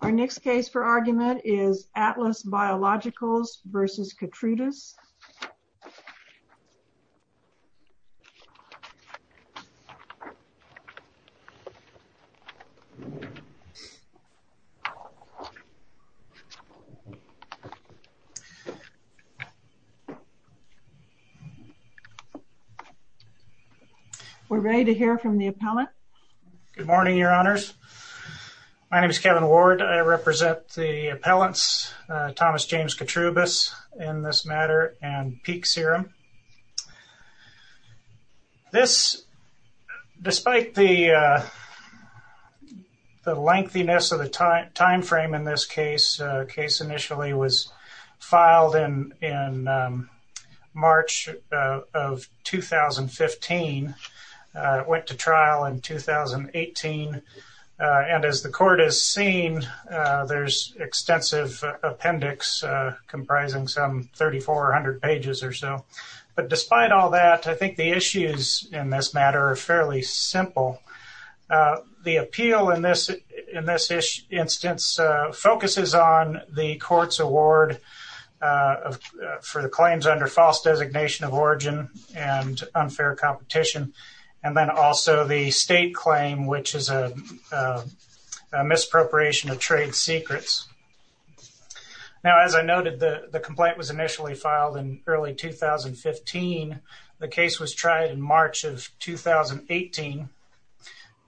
Our next case for argument is Atlas Biologicals v. Kutrubes. We're ready to hear from the appellant. Good morning, your honors. My name is Kevin Ward. I represent the appellants, Thomas James Kutrubes in this matter, and Peak Serum. This, despite the lengthiness of the time frame in this case, the case initially was filed in March of 2015, went to trial in 2018, and as the court has seen, there's extensive appendix comprising some 3,400 pages or so. But despite all that, I think the issues in this matter are fairly simple. The appeal in this instance focuses on the court's award for the claims under false designation of origin and unfair competition, and then also the state claim, which is a misappropriation of trade secrets. Now, as I noted, the complaint was initially filed in early 2015. The case was tried in March of 2018,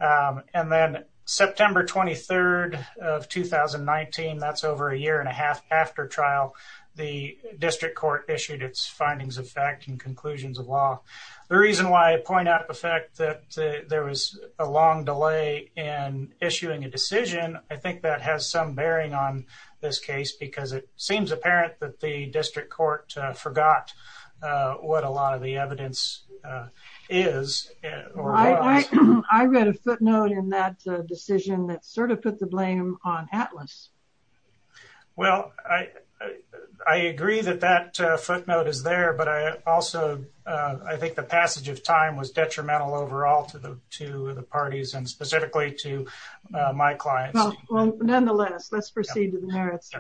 and then September 23rd of 2019, that's over a year and a half after trial, the district court issued its findings of fact and conclusions of law. The reason why I point out the fact that there was a long delay in issuing a decision, I think that has some bearing on this case, because it seems apparent that the district court forgot what a lot of the evidence is or was. I read a footnote in that decision that sort of put the blame on Atlas. Well, I agree that that footnote is there, but I also, I think the passage of time was detrimental overall to the parties and specifically to my clients. Well, nonetheless, let's proceed to the merits.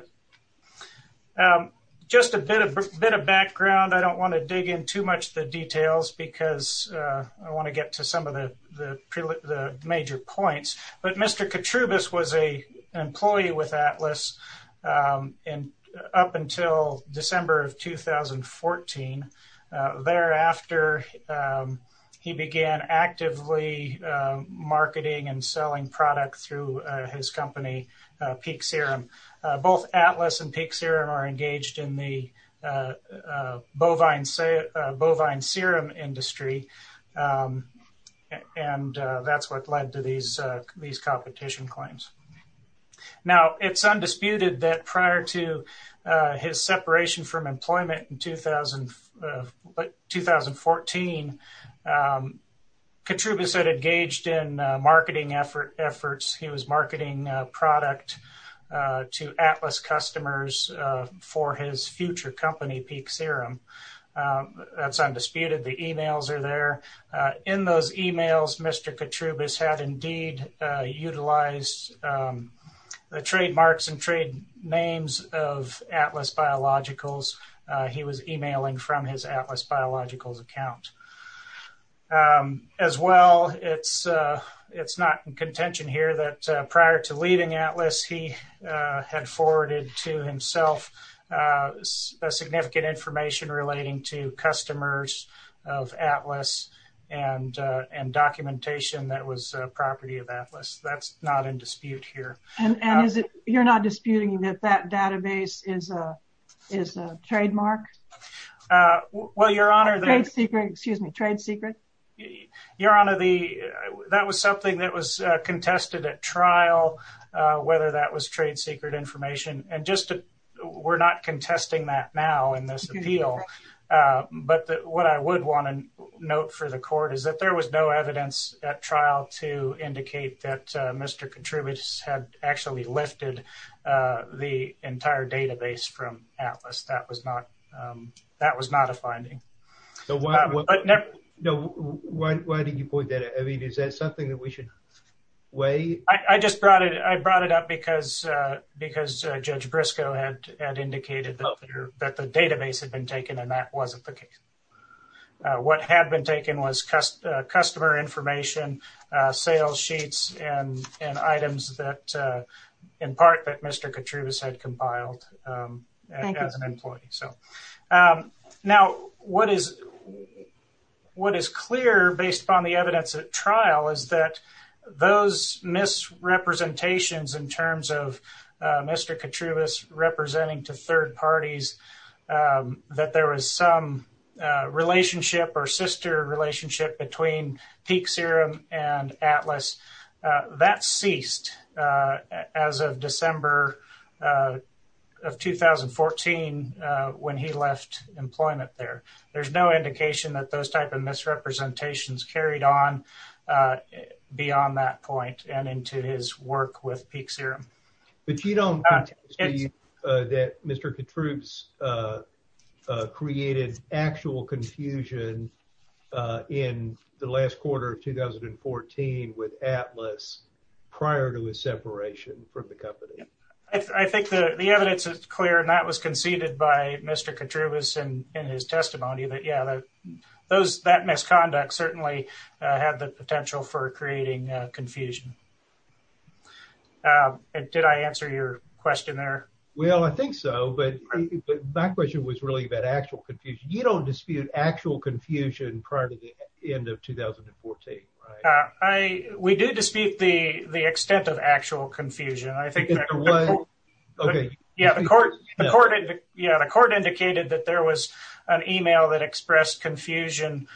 Just a bit of background, I don't want to dig in too much the details because I want to get to some of the major points, but Mr. until December of 2014. Thereafter, he began actively marketing and selling products through his company, Peak Serum. Both Atlas and Peak Serum are engaged in the bovine serum industry, and that's what led to these competition claims. Now, it's undisputed that prior to his separation from employment in 2014, Ketrubis had engaged in marketing efforts. He was marketing product to Atlas customers for his future company, Peak Serum. That's undisputed. The emails are there. In those emails, Mr. Ketrubis had indeed utilized the trademarks and trade names of Atlas Biologicals. He was emailing from his Atlas Biologicals account. As well, it's not in contention here that prior to leaving Atlas, he had forwarded to himself significant information relating to customers of Atlas and documentation that was property of Atlas. That's not in dispute here. And you're not disputing that that database is a trademark? Well, Your Honor, that was something that was contested at trial, whether that was trade secret information, and we're not contesting that now in this appeal. But what I would want to note for the court is that there was no evidence at trial to indicate that Mr. Ketrubis had actually lifted the entire database from Atlas. That was not a finding. Why did you point that out? I mean, is that something that we should weigh? I just brought it up because Judge Briscoe had indicated that the database had been taken, and that wasn't the case. What had been taken was customer information, sales sheets, and items that, in part, that Mr. Ketrubis had compiled as an employee. Now, what is clear based upon the evidence at trial is that those misrepresentations in terms of Mr. Ketrubis representing to third parties, that there was some relationship or sister relationship between Peak Serum and Atlas, that ceased as of December of 2014. When he left employment there, there's no indication that those type of misrepresentations carried on beyond that point and into his work with Peak Serum. But you don't think that Mr. Ketrubis created actual confusion in the last quarter of 2014 with Atlas prior to his separation from the company? I think the evidence is clear, and that was conceded by Mr. Ketrubis in his testimony that, yeah, that misconduct certainly had the potential for creating confusion. Did I answer your question there? Well, I think so, but my question was really about actual confusion. You don't dispute actual confusion prior to the end of 2014, right? We do dispute the extent of actual confusion. Okay. Yeah, the court indicated that there was an email that expressed confusion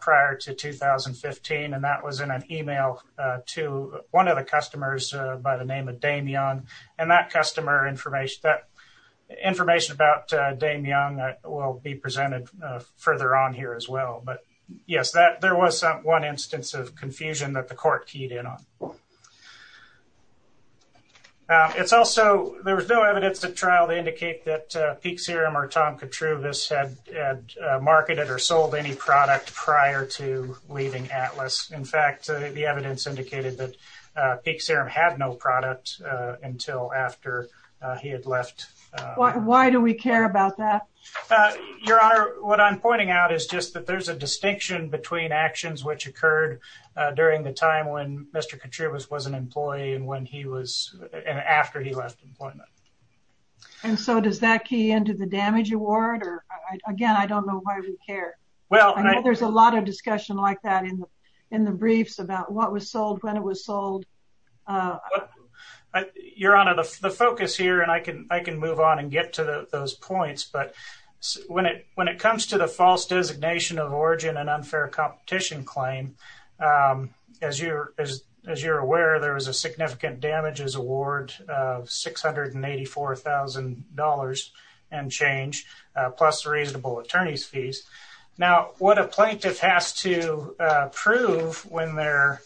prior to 2015, and that was in an email to one of the customers by the name of Dame Young. And that information about Dame Young will be presented further on here as well. But, yes, there was one instance of confusion that the court keyed in on. There was no evidence at trial to indicate that Peak Serum or Tom Ketrubis had marketed or sold any product prior to leaving Atlas. In fact, the evidence indicated that Peak Serum had no product until after he had left. Why do we care about that? Your Honor, what I'm pointing out is just that there's a distinction between actions which occurred during the time when Mr. Ketrubis was an employee and when he was – and after he left employment. And so does that key into the damage award? Or, again, I don't know why we care. I know there's a lot of discussion like that in the briefs about what was sold, when it was sold. Your Honor, the focus here – and I can move on and get to those points. But when it comes to the false designation of origin and unfair competition claim, as you're aware, there was a significant damages award of $684,000 and change, plus reasonable attorney's fees. Now, what a plaintiff has to prove when they're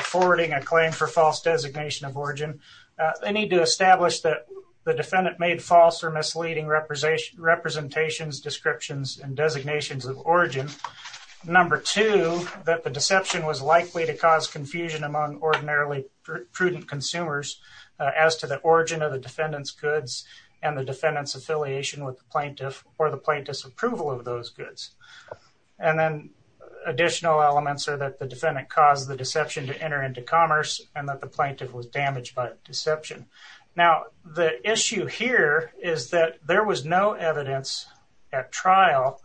forwarding a claim for false designation of origin, they need to establish that the defendant made false or misleading representations, descriptions, and designations of origin. Number two, that the deception was likely to cause confusion among ordinarily prudent consumers as to the origin of the defendant's goods and the defendant's affiliation with the plaintiff or the plaintiff's approval of those goods. And then additional elements are that the defendant caused the deception to enter into commerce and that the plaintiff was damaged by deception. Now, the issue here is that there was no evidence at trial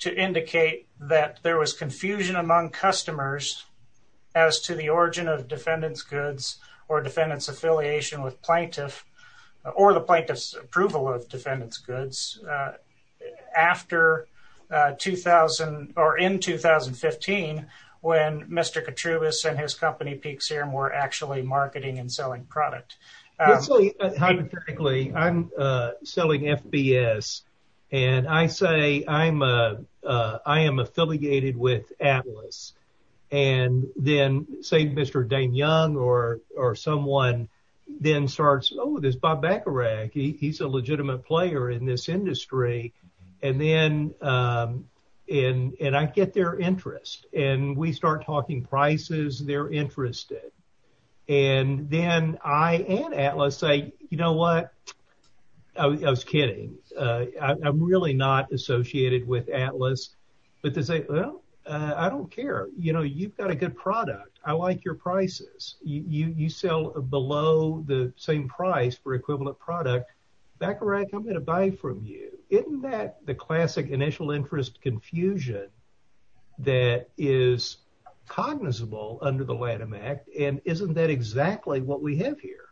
to indicate that there was confusion among customers as to the origin of defendant's goods or defendant's affiliation with plaintiff or the plaintiff's approval of defendant's goods after 2000 – or in 2015 when Mr. Ketrubis and his company, PXIRM, were actually marketing and selling product. Hypothetically, I'm selling FBS, and I say I am affiliated with Atlas. And then, say, Mr. Dane Young or someone then starts, oh, there's Bob Bacharach. He's a legitimate player in this industry. And then I get their interest, and we start talking prices. They're interested. And then I and Atlas say, you know what? I was kidding. I'm really not associated with Atlas. But they say, well, I don't care. You know, you've got a good product. I like your prices. You sell below the same price for equivalent product. Bacharach, I'm going to buy from you. Isn't that the classic initial interest confusion that is cognizable under the Lanham Act? And isn't that exactly what we have here?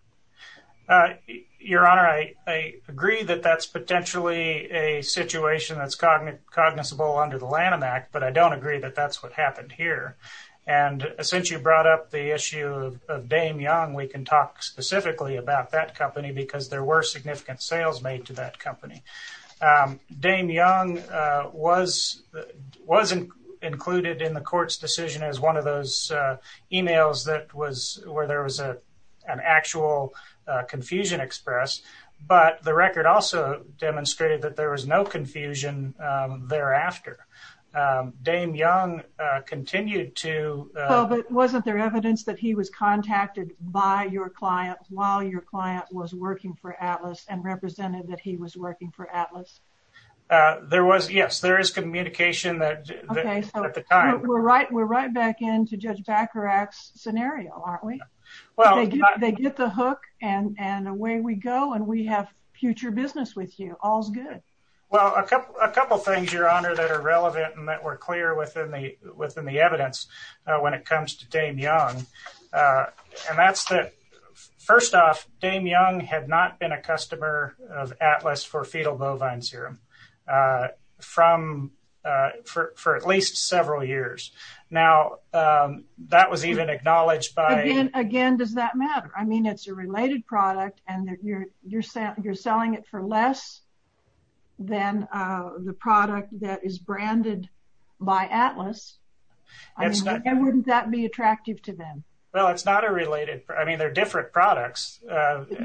Your Honor, I agree that that's potentially a situation that's cognizable under the Lanham Act, but I don't agree that that's what happened here. And since you brought up the issue of Dane Young, we can talk specifically about that company because there were significant sales made to that company. Dane Young was included in the court's decision as one of those emails where there was an actual confusion expressed, but the record also demonstrated that there was no confusion thereafter. Dane Young continued to Well, but wasn't there evidence that he was contacted by your client while your client was working for Atlas and represented that he was working for Atlas? There was, yes, there is communication that at the time. We're right back into Judge Bacharach's scenario, aren't we? They get the hook, and away we go, and we have future business with you. All's good. Well, a couple things, Your Honor, that are relevant and that were clear within the evidence when it comes to Dane Young, and that's that, first off, Dane Young had not been a customer of Atlas for fetal bovine serum for at least several years. Now, that was even acknowledged by Again, does that matter? I mean, it's a related product, and you're selling it for less than the product that is branded by Atlas. I mean, wouldn't that be attractive to them? Well, it's not a related, I mean, they're different products.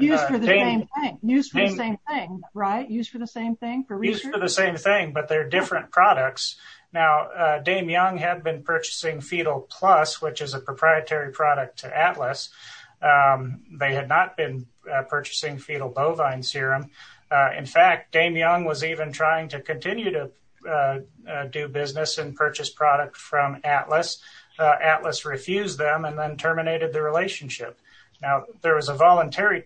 Used for the same thing, right? Used for the same thing for research? Now, Dane Young had been purchasing Fetal Plus, which is a proprietary product to Atlas. They had not been purchasing fetal bovine serum. In fact, Dane Young was even trying to continue to do business and purchase product from Atlas. Atlas refused them and then terminated the relationship. Now, there was a voluntary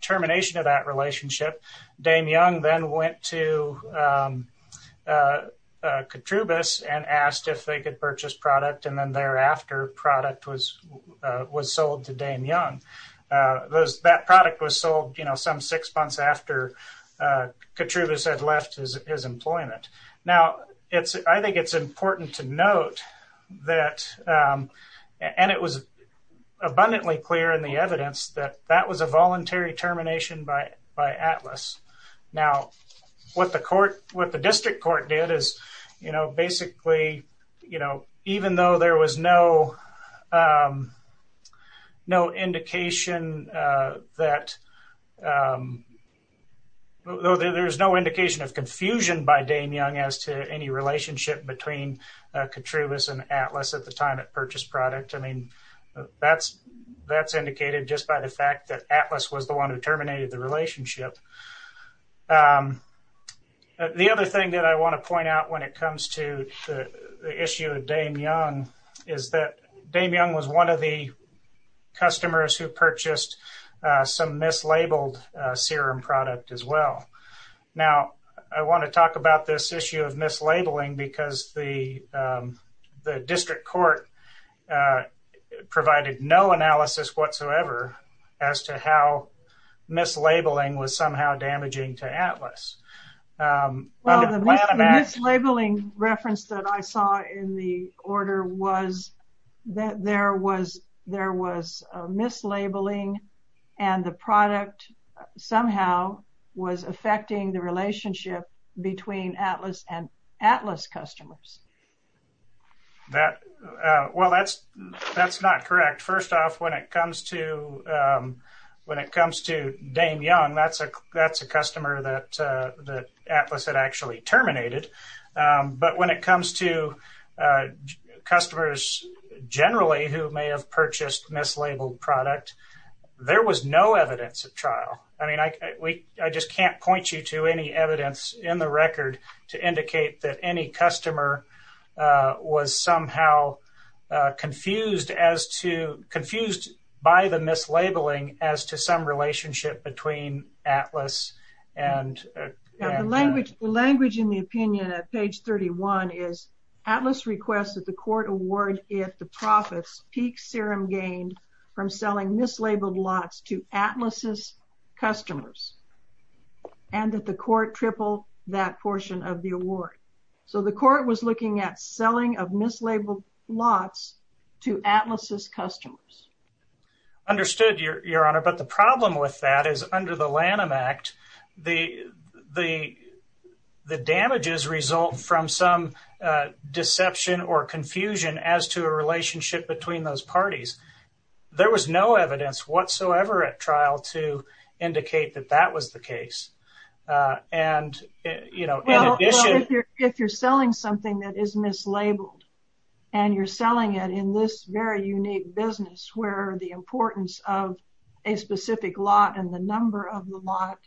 termination of that relationship. Dane Young then went to Ketrubis and asked if they could purchase product, and then thereafter, product was sold to Dane Young. That product was sold some six months after Ketrubis had left his employment. Now, I think it's important to note that, and it was abundantly clear in the evidence, that that was a voluntary termination by Atlas. Now, what the district court did is, basically, even though there was no indication of confusion by Dane Young as to any relationship between Ketrubis and Atlas at the time it purchased product, I mean, that's indicated just by the fact that Atlas was the one who terminated the relationship. The other thing that I want to point out when it comes to the issue of Dane Young is that Dane Young was one of the customers who purchased some mislabeled serum product as well. Now, I want to talk about this issue of mislabeling because the district court provided no analysis whatsoever as to how mislabeling was somehow damaging to Atlas. Well, the mislabeling reference that I saw in the order was that there was mislabeling and the product somehow was affecting the relationship between Atlas and Atlas customers. Well, that's not correct. First off, when it comes to Dane Young, that's a customer that Atlas had actually terminated. But when it comes to customers generally who may have purchased mislabeled product, there was no evidence of trial. I mean, I just can't point you to any evidence in the record to indicate that any customer was somehow confused by the mislabeling as to some relationship between Atlas and Atlas. The language in the opinion at page 31 is Atlas requests that the court award if the profits peak serum gained from selling mislabeled lots to Atlas's customers and that the court triple that portion of the award. So, the court was looking at selling of mislabeled lots to Atlas's customers. Understood, Your Honor. But the problem with that is under the Lanham Act, the damages result from some deception or confusion as to a relationship between those parties. There was no evidence whatsoever at trial to indicate that that was the case. Well, if you're selling something that is mislabeled and you're selling it in this very unique business where the importance of a specific lot and the number of the lot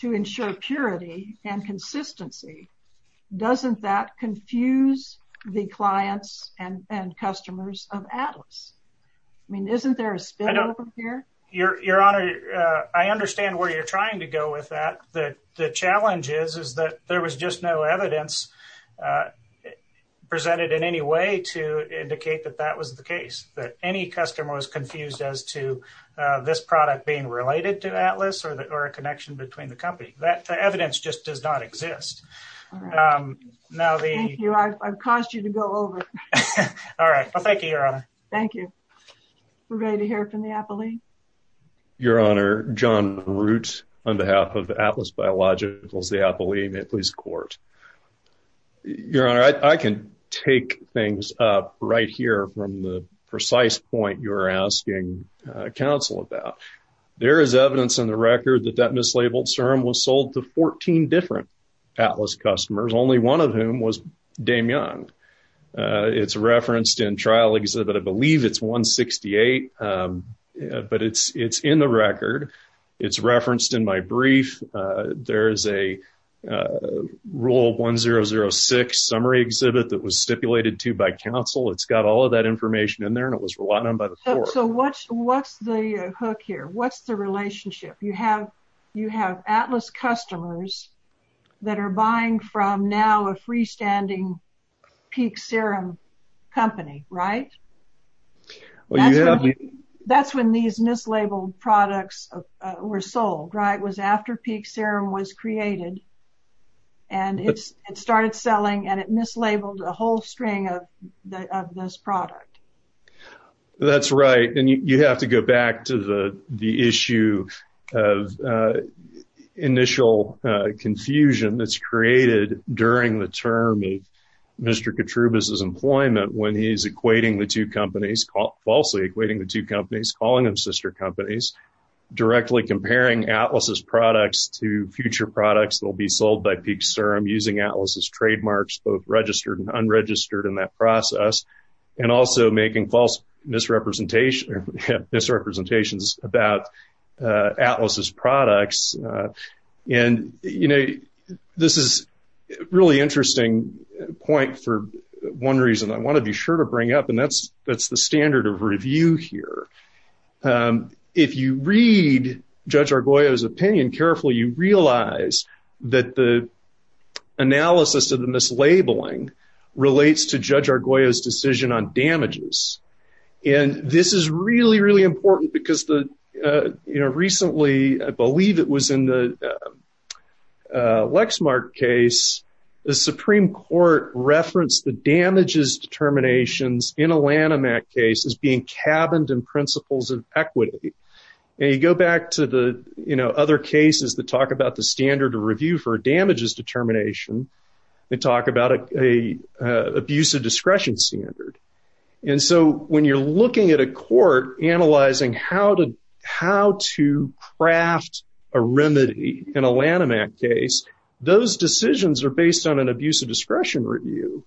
to ensure purity and consistency, doesn't that confuse the clients and customers of Atlas? I mean, isn't there a spin here? Your Honor, I understand where you're trying to go with that. The challenge is that there was just no evidence presented in any way to indicate that that was the case. That any customer was confused as to this product being related to Atlas or a connection between the company. That evidence just does not exist. Thank you. I've caused you to go over. All right. Well, thank you, Your Honor. Thank you. We're ready to hear from the appellee. Your Honor, John Root on behalf of Atlas Biologicals, the appellee. May it please court. Your Honor, I can take things up right here from the precise point you're asking counsel about. There is evidence in the record that that mislabeled serum was sold to 14 different Atlas customers, only one of whom was Dame Young. It's referenced in trial exhibit. I believe it's 168, but it's in the record. It's referenced in my brief. There is a rule 1006 summary exhibit that was stipulated to by counsel. It's got all of that information in there and it was brought on by the court. So what's the hook here? What's the relationship? You have you have Atlas customers that are buying from now a freestanding peak serum company, right? That's when these mislabeled products were sold. Right. It was after Peak Serum was created. And it started selling and it mislabeled a whole string of this product. That's right. And you have to go back to the issue of initial confusion that's created during the term of Mr. Ketrubis's employment when he's equating the two companies, falsely equating the two companies, calling them sister companies, directly comparing Atlas's products to future products that will be sold by Peak Serum using Atlas's trademarks, both registered and unregistered in that process, and also making false misrepresentation or misrepresentations about Atlas's products. And, you know, this is really interesting point for one reason I want to be sure to bring up. And that's that's the standard of review here. If you read Judge Argoia's opinion carefully, you realize that the analysis of the mislabeling relates to Judge Argoia's decision on damages. And this is really, really important because the you know, recently, I believe it was in the Lexmark case. The Supreme Court referenced the damages determinations in a Lanham Act case as being cabined in principles of equity. And you go back to the, you know, other cases that talk about the standard of review for damages determination. They talk about a abuse of discretion standard. And so when you're looking at a court analyzing how to craft a remedy in a Lanham Act case, those decisions are based on an abuse of discretion review.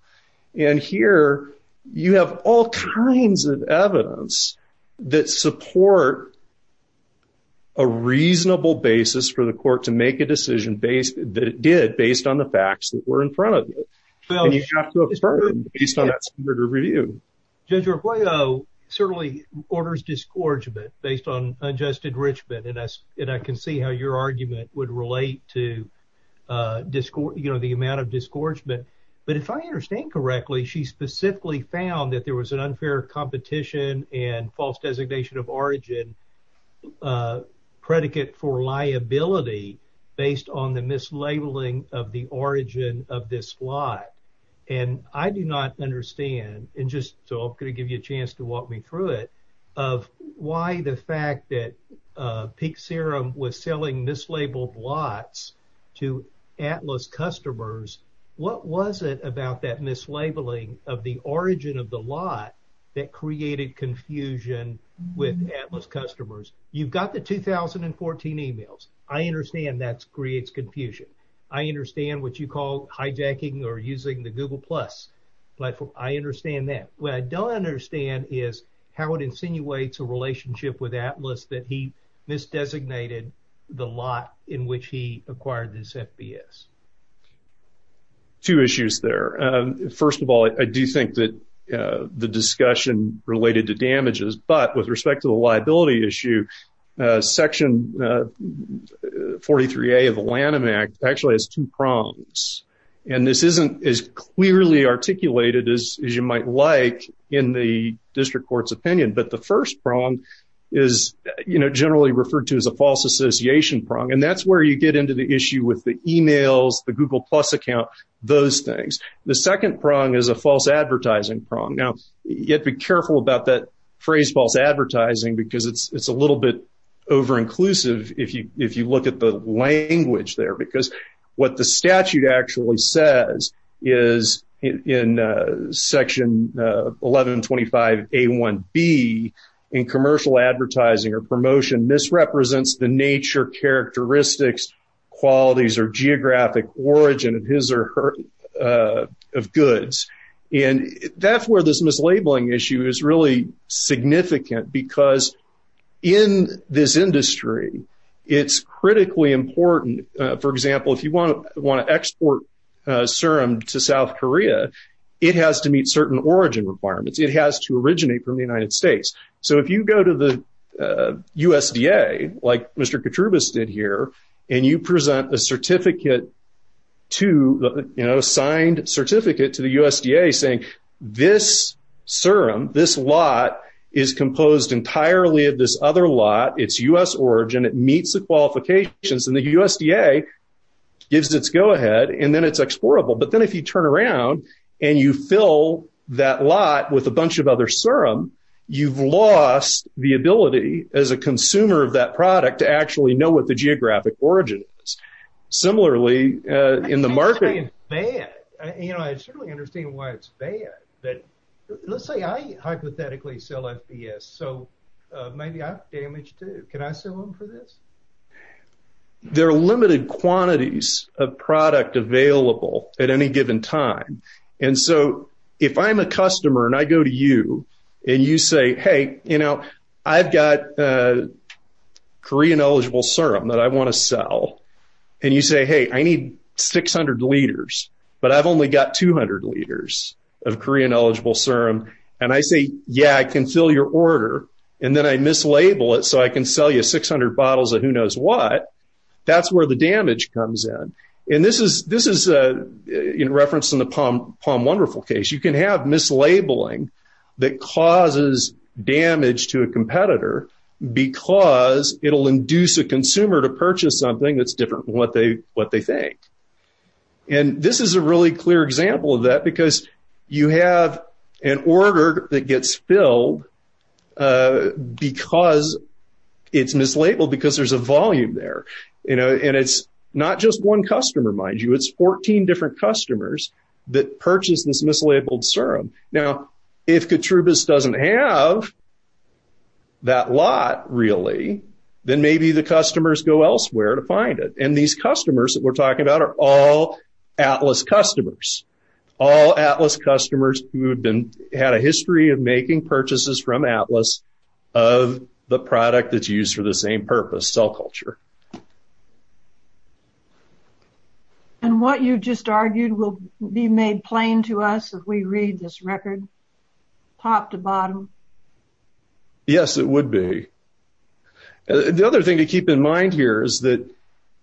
And here you have all kinds of evidence that support a reasonable basis for the court to make a decision that it did based on the facts that were in front of it. Based on that standard of review. Judge Argoia certainly orders disgorgement based on unjust enrichment. And I can see how your argument would relate to, you know, the amount of disgorgement. But if I understand correctly, she specifically found that there was an unfair competition and false designation of origin predicate for liability based on the mislabeling of the origin of this lot. And I do not understand, and just so I'm going to give you a chance to walk me through it, of why the fact that Peak Serum was selling mislabeled lots to Atlas customers. What was it about that mislabeling of the origin of the lot that created confusion with Atlas customers? You've got the 2014 emails. I understand that creates confusion. I understand what you call hijacking or using the Google Plus platform. I understand that. What I don't understand is how it insinuates a relationship with Atlas that he misdesignated the lot in which he acquired this FBS. Two issues there. First of all, I do think that the discussion related to damages. But with respect to the liability issue, Section 43A of the Lanham Act actually has two prongs. And this isn't as clearly articulated as you might like in the district court's opinion. But the first prong is, you know, generally referred to as a false association prong. And that's where you get into the issue with the emails, the Google Plus account, those things. The second prong is a false advertising prong. Now, you have to be careful about that phrase, false advertising, because it's a little bit over-inclusive if you look at the language there. Because what the statute actually says is in Section 1125A1B, in commercial advertising or promotion, misrepresents the nature, characteristics, qualities, or geographic origin of his or her goods. And that's where this mislabeling issue is really significant, because in this industry, it's critically important. For example, if you want to export serum to South Korea, it has to meet certain origin requirements. It has to originate from the United States. So if you go to the USDA, like Mr. Ketrubis did here, and you present a certificate to, you know, a signed certificate to the USDA saying this serum, this lot, is composed entirely of this other lot, it's U.S. origin, it meets the qualifications, and the USDA gives its go-ahead, and then it's exportable. But then if you turn around and you fill that lot with a bunch of other serum, you've lost the ability as a consumer of that product to actually know what the geographic origin is. Similarly, in the marketing – There are limited quantities of product available at any given time. And so if I'm a customer and I go to you and you say, hey, you know, I've got Korean-eligible serum that I want to sell, and you say, hey, I need 600 liters, but I've only got 200 liters of Korean-eligible serum, and I say, yeah, I can fill your order, and then I mislabel it so I can sell you 600 bottles of who knows what, that's where the damage comes in. And this is referenced in the Palm Wonderful case. You can have mislabeling that causes damage to a competitor because it'll induce a consumer to purchase something that's different from what they think. And this is a really clear example of that because you have an order that gets filled because it's mislabeled, because there's a volume there. And it's not just one customer, mind you. It's 14 different customers that purchase this mislabeled serum. Now, if Ketrubis doesn't have that lot, really, then maybe the customers go elsewhere to find it. And these customers that we're talking about are all Atlas customers, all Atlas customers who have had a history of making purchases from Atlas of the product that's used for the same purpose, cell culture. And what you just argued will be made plain to us if we read this record, top to bottom? Yes, it would be. The other thing to keep in mind here is that,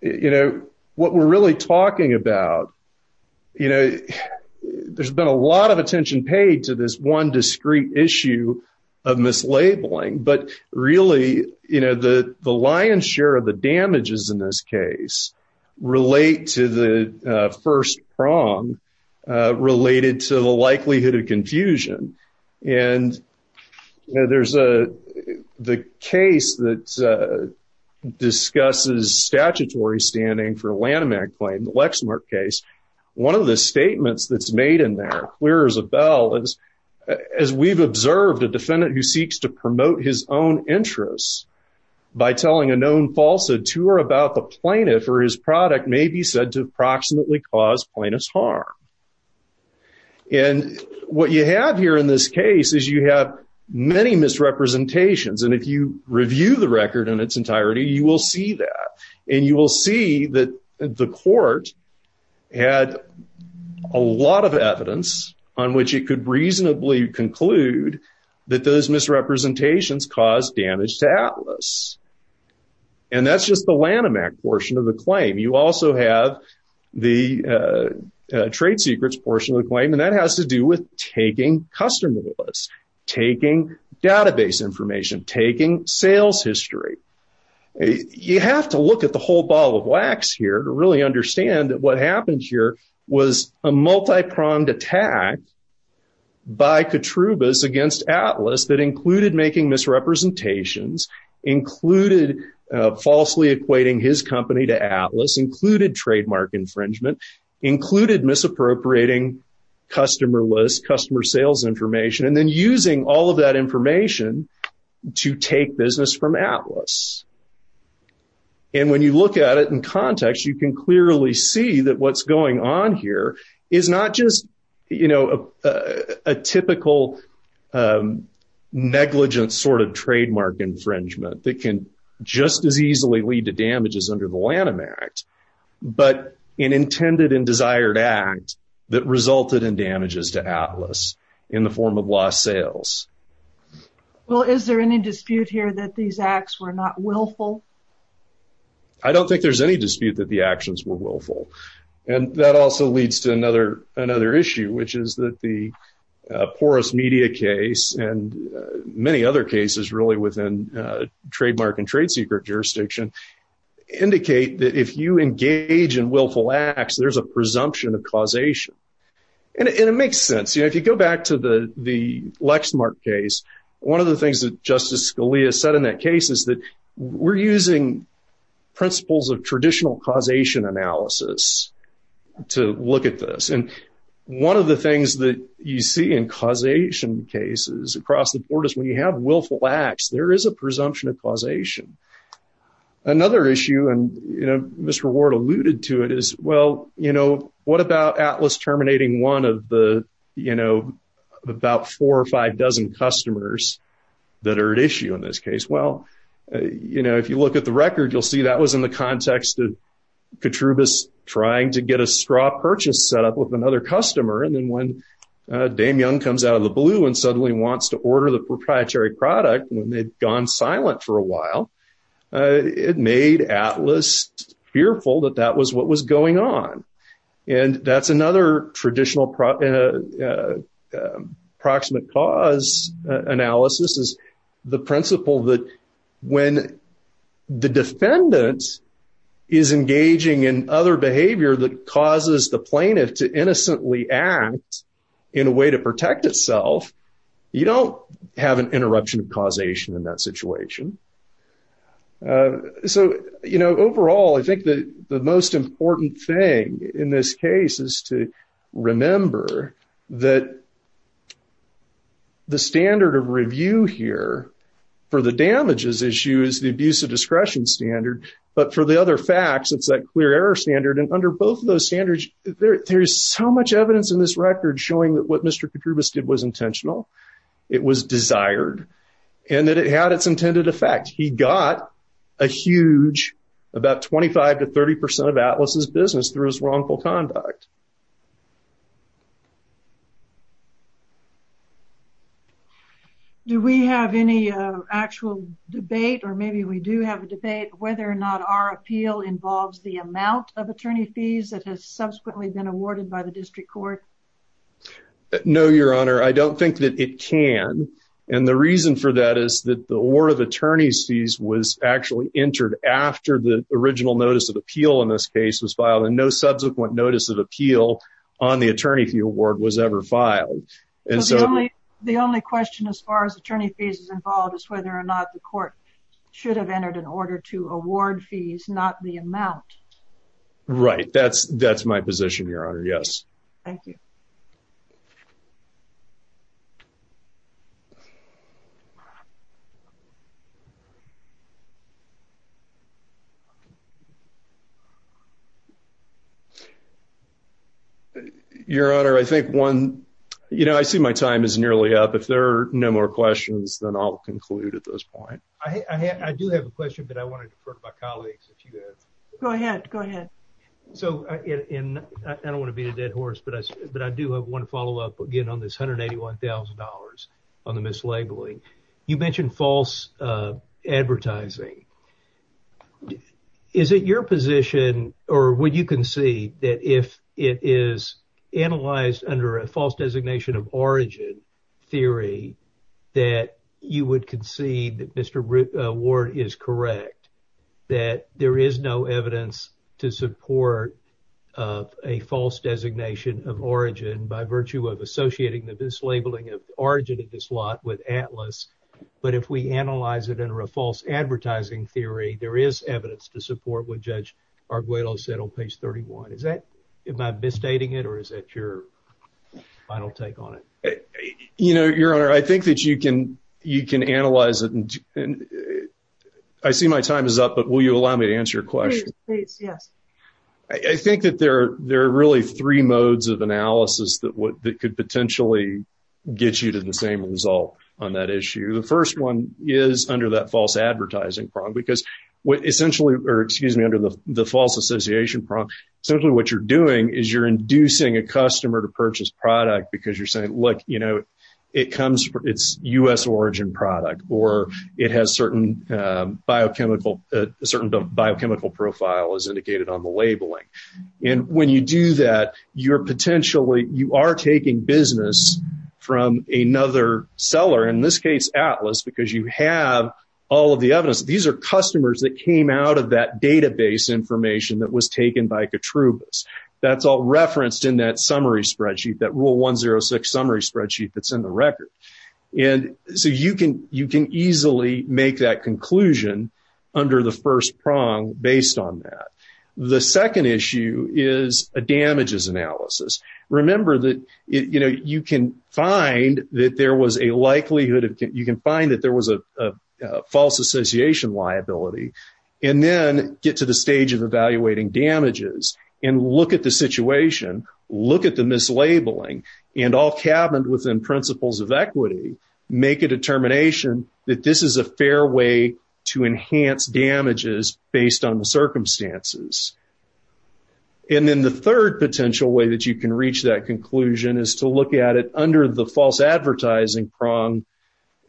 you know, what we're really talking about, you know, there's been a lot of attention paid to this one discrete issue of mislabeling. But really, you know, the lion's share of the damages in this case relate to the first prong related to the likelihood of confusion. And, you know, there's the case that discusses statutory standing for a Lanomag claim, the Lexmark case. One of the statements that's made in there, clear as a bell, is, as we've observed, a defendant who seeks to promote his own interests by telling a known false auteur about the plaintiff or his product may be said to approximately cause plaintiff's harm. And what you have here in this case is you have many misrepresentations. And if you review the record in its entirety, you will see that. And you will see that the court had a lot of evidence on which it could reasonably conclude that those misrepresentations caused damage to Atlas. And that's just the Lanomag portion of the claim. You also have the trade secrets portion of the claim. And that has to do with taking customer lists, taking database information, taking sales history. You have to look at the whole ball of wax here to really understand that what happened here was a multi-pronged attack by Ketrubas against Atlas that included making misrepresentations, included falsely equating his company to Atlas, included trademark infringement, included misappropriating customer lists, customer sales information, and then using all of that information to take business from Atlas. And when you look at it in context, you can clearly see that what's going on here is not just, you know, a typical negligent sort of trademark infringement that can just as easily lead to damages under the Lanomag Act, but an intended and desired act that resulted in damages to Atlas in the form of lost sales. Well, is there any dispute here that these acts were not willful? I don't think there's any dispute that the actions were willful. And that also leads to another issue, which is that the Porous Media case and many other cases really within trademark and trade secret jurisdiction indicate that if you engage in willful acts, there's a presumption of causation. And it makes sense. You know, if you go back to the Lexmark case, one of the things that Justice Scalia said in that case is that we're using principles of traditional causation analysis to look at this. And one of the things that you see in causation cases across the board is when you have willful acts, there is a presumption of causation. Another issue, and, you know, Mr. Ward alluded to it, is, well, you know, what about Atlas terminating one of the, you know, about four or five dozen customers that are at issue in this case? Well, you know, if you look at the record, you'll see that was in the context of Ketrubis trying to get a straw purchase set up with another customer. And then when Dame Young comes out of the blue and suddenly wants to order the proprietary product, when they've gone silent for a while, it made Atlas fearful that that was what was going on. And that's another traditional approximate cause analysis is the principle that when the defendant is engaging in other behavior that causes the plaintiff to innocently act in a way to protect itself, you don't have an interruption of causation in that situation. So, you know, overall, I think the most important thing in this case is to remember that the standard of review here for the damages issue is the abuse of discretion standard, but for the other facts, it's that clear error standard. And under both of those standards, there is so much evidence in this record showing that what Mr. Ketrubis did was intentional, it was desired, and that it had its intended effect. He got a huge, about 25 to 30 percent of Atlas's business through his wrongful conduct. Do we have any actual debate or maybe we do have a debate whether or not our appeal involves the amount of attorney fees that has subsequently been awarded by the district court? No, Your Honor. I don't think that it can. And the reason for that is that the award of attorney's fees was actually entered after the original notice of appeal in this case was filed and no subsequent notice of appeal on the attorney fee award was ever filed. And so the only question as far as attorney fees is involved is whether or not the court should have entered an order to award fees, not the amount. Right. That's my position, Your Honor. Yes. Thank you. Your Honor, I think one, you know, I see my time is nearly up. If there are no more questions, then I'll conclude at this point. I do have a question, but I want to defer to my colleagues. Go ahead. Go ahead. So I don't want to be a dead horse, but I do have one follow up again on this hundred eighty one thousand dollars on the mislabeling. You mentioned false advertising. Is it your position or would you concede that if it is analyzed under a false designation of origin theory that you would concede that Mr. Ward is correct that there is no evidence to support a false designation of origin by virtue of associating the mislabeling of origin of this lot with Atlas? But if we analyze it in a false advertising theory, there is evidence to support what Judge Arguello said on page thirty one. Is that my misstating it or is that your final take on it? You know, your honor, I think that you can you can analyze it. I see my time is up, but will you allow me to answer your question? Yes. I think that there are there are really three modes of analysis that could potentially get you to the same result on that issue. The first one is under that false advertising problem, because what essentially or excuse me, under the false association problem, essentially what you're doing is you're inducing a customer to purchase product because you're saying, look, you know, it comes from its U.S. origin product or it has certain biochemical certain biochemical profile as indicated on the labeling. And when you do that, you're potentially you are taking business from another seller, in this case, Atlas, because you have all of the evidence. These are customers that came out of that database information that was taken by Katrubas. That's all referenced in that summary spreadsheet, that rule one zero six summary spreadsheet that's in the record. And so you can you can easily make that conclusion under the first prong based on that. The second issue is a damages analysis. Remember that, you know, you can find that there was a likelihood of you can find that there was a false association liability and then get to the stage of evaluating damages and look at the situation. Look at the mislabeling and all cabined within principles of equity. Make a determination that this is a fair way to enhance damages based on the circumstances. And then the third potential way that you can reach that conclusion is to look at it under the false advertising prong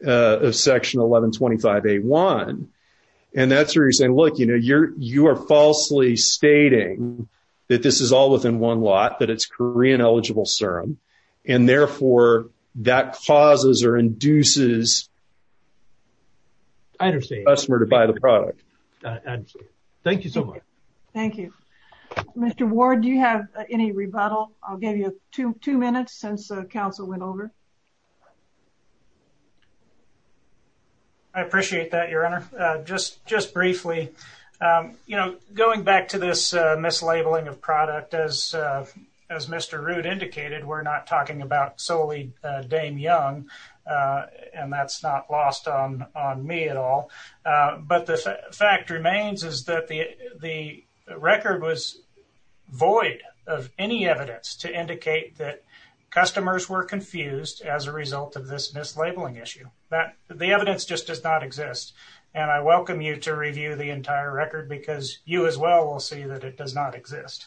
of Section 11. Twenty five a one. And that's where you're saying, look, you know, you're you are falsely stating that this is all within one lot, that it's Korean eligible serum. And therefore, that causes or induces. I understand. Customer to buy the product. Thank you so much. Thank you, Mr. Ward. Do you have any rebuttal? I'll give you two minutes since the council went over. I appreciate that your honor. Just just briefly, you know, going back to this mislabeling of product as as Mr. Root indicated, we're not talking about solely Dame Young, and that's not lost on on me at all. But the fact remains is that the the record was void of any evidence to indicate that customers were confused as a result of this mislabeling issue that the evidence just does not exist. And I welcome you to review the entire record because you as well will see that it does not exist.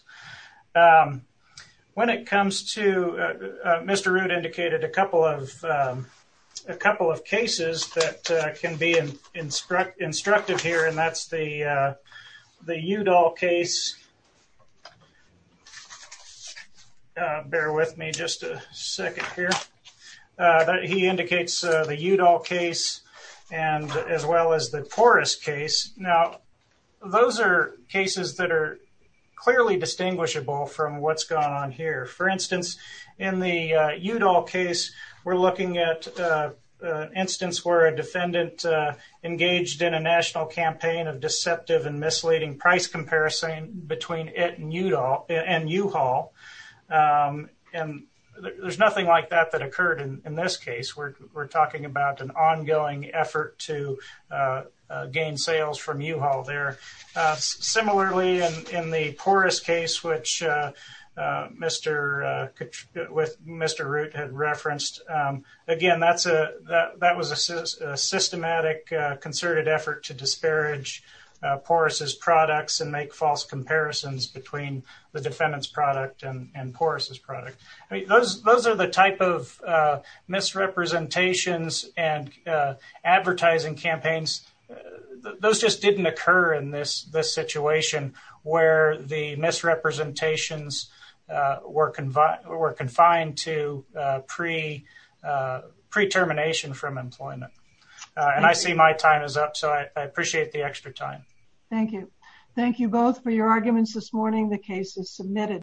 When it comes to Mr. Root indicated a couple of a couple of cases that can be instruct instructive here. And that's the the Udall case. Bear with me just a second here. He indicates the Udall case and as well as the poorest case. Now, those are cases that are clearly distinguishable from what's going on here. For instance, in the Udall case, we're looking at an instance where a defendant engaged in a national campaign of deceptive and misleading price comparison between it and Udall and U-Haul. And there's nothing like that that occurred in this case. We're talking about an ongoing effort to gain sales from U-Haul there. Similarly, in the poorest case, which Mr. with Mr. Root had referenced again, that's a that that was a systematic concerted effort to disparage porous as products and make false comparisons between the defendant's product and porous as product. I mean, those those are the type of misrepresentations and advertising campaigns. Those just didn't occur in this this situation where the misrepresentations were confined or confined to pre pre termination from employment. And I see my time is up. So I appreciate the extra time. Thank you. Thank you both for your arguments this morning. The case is submitted.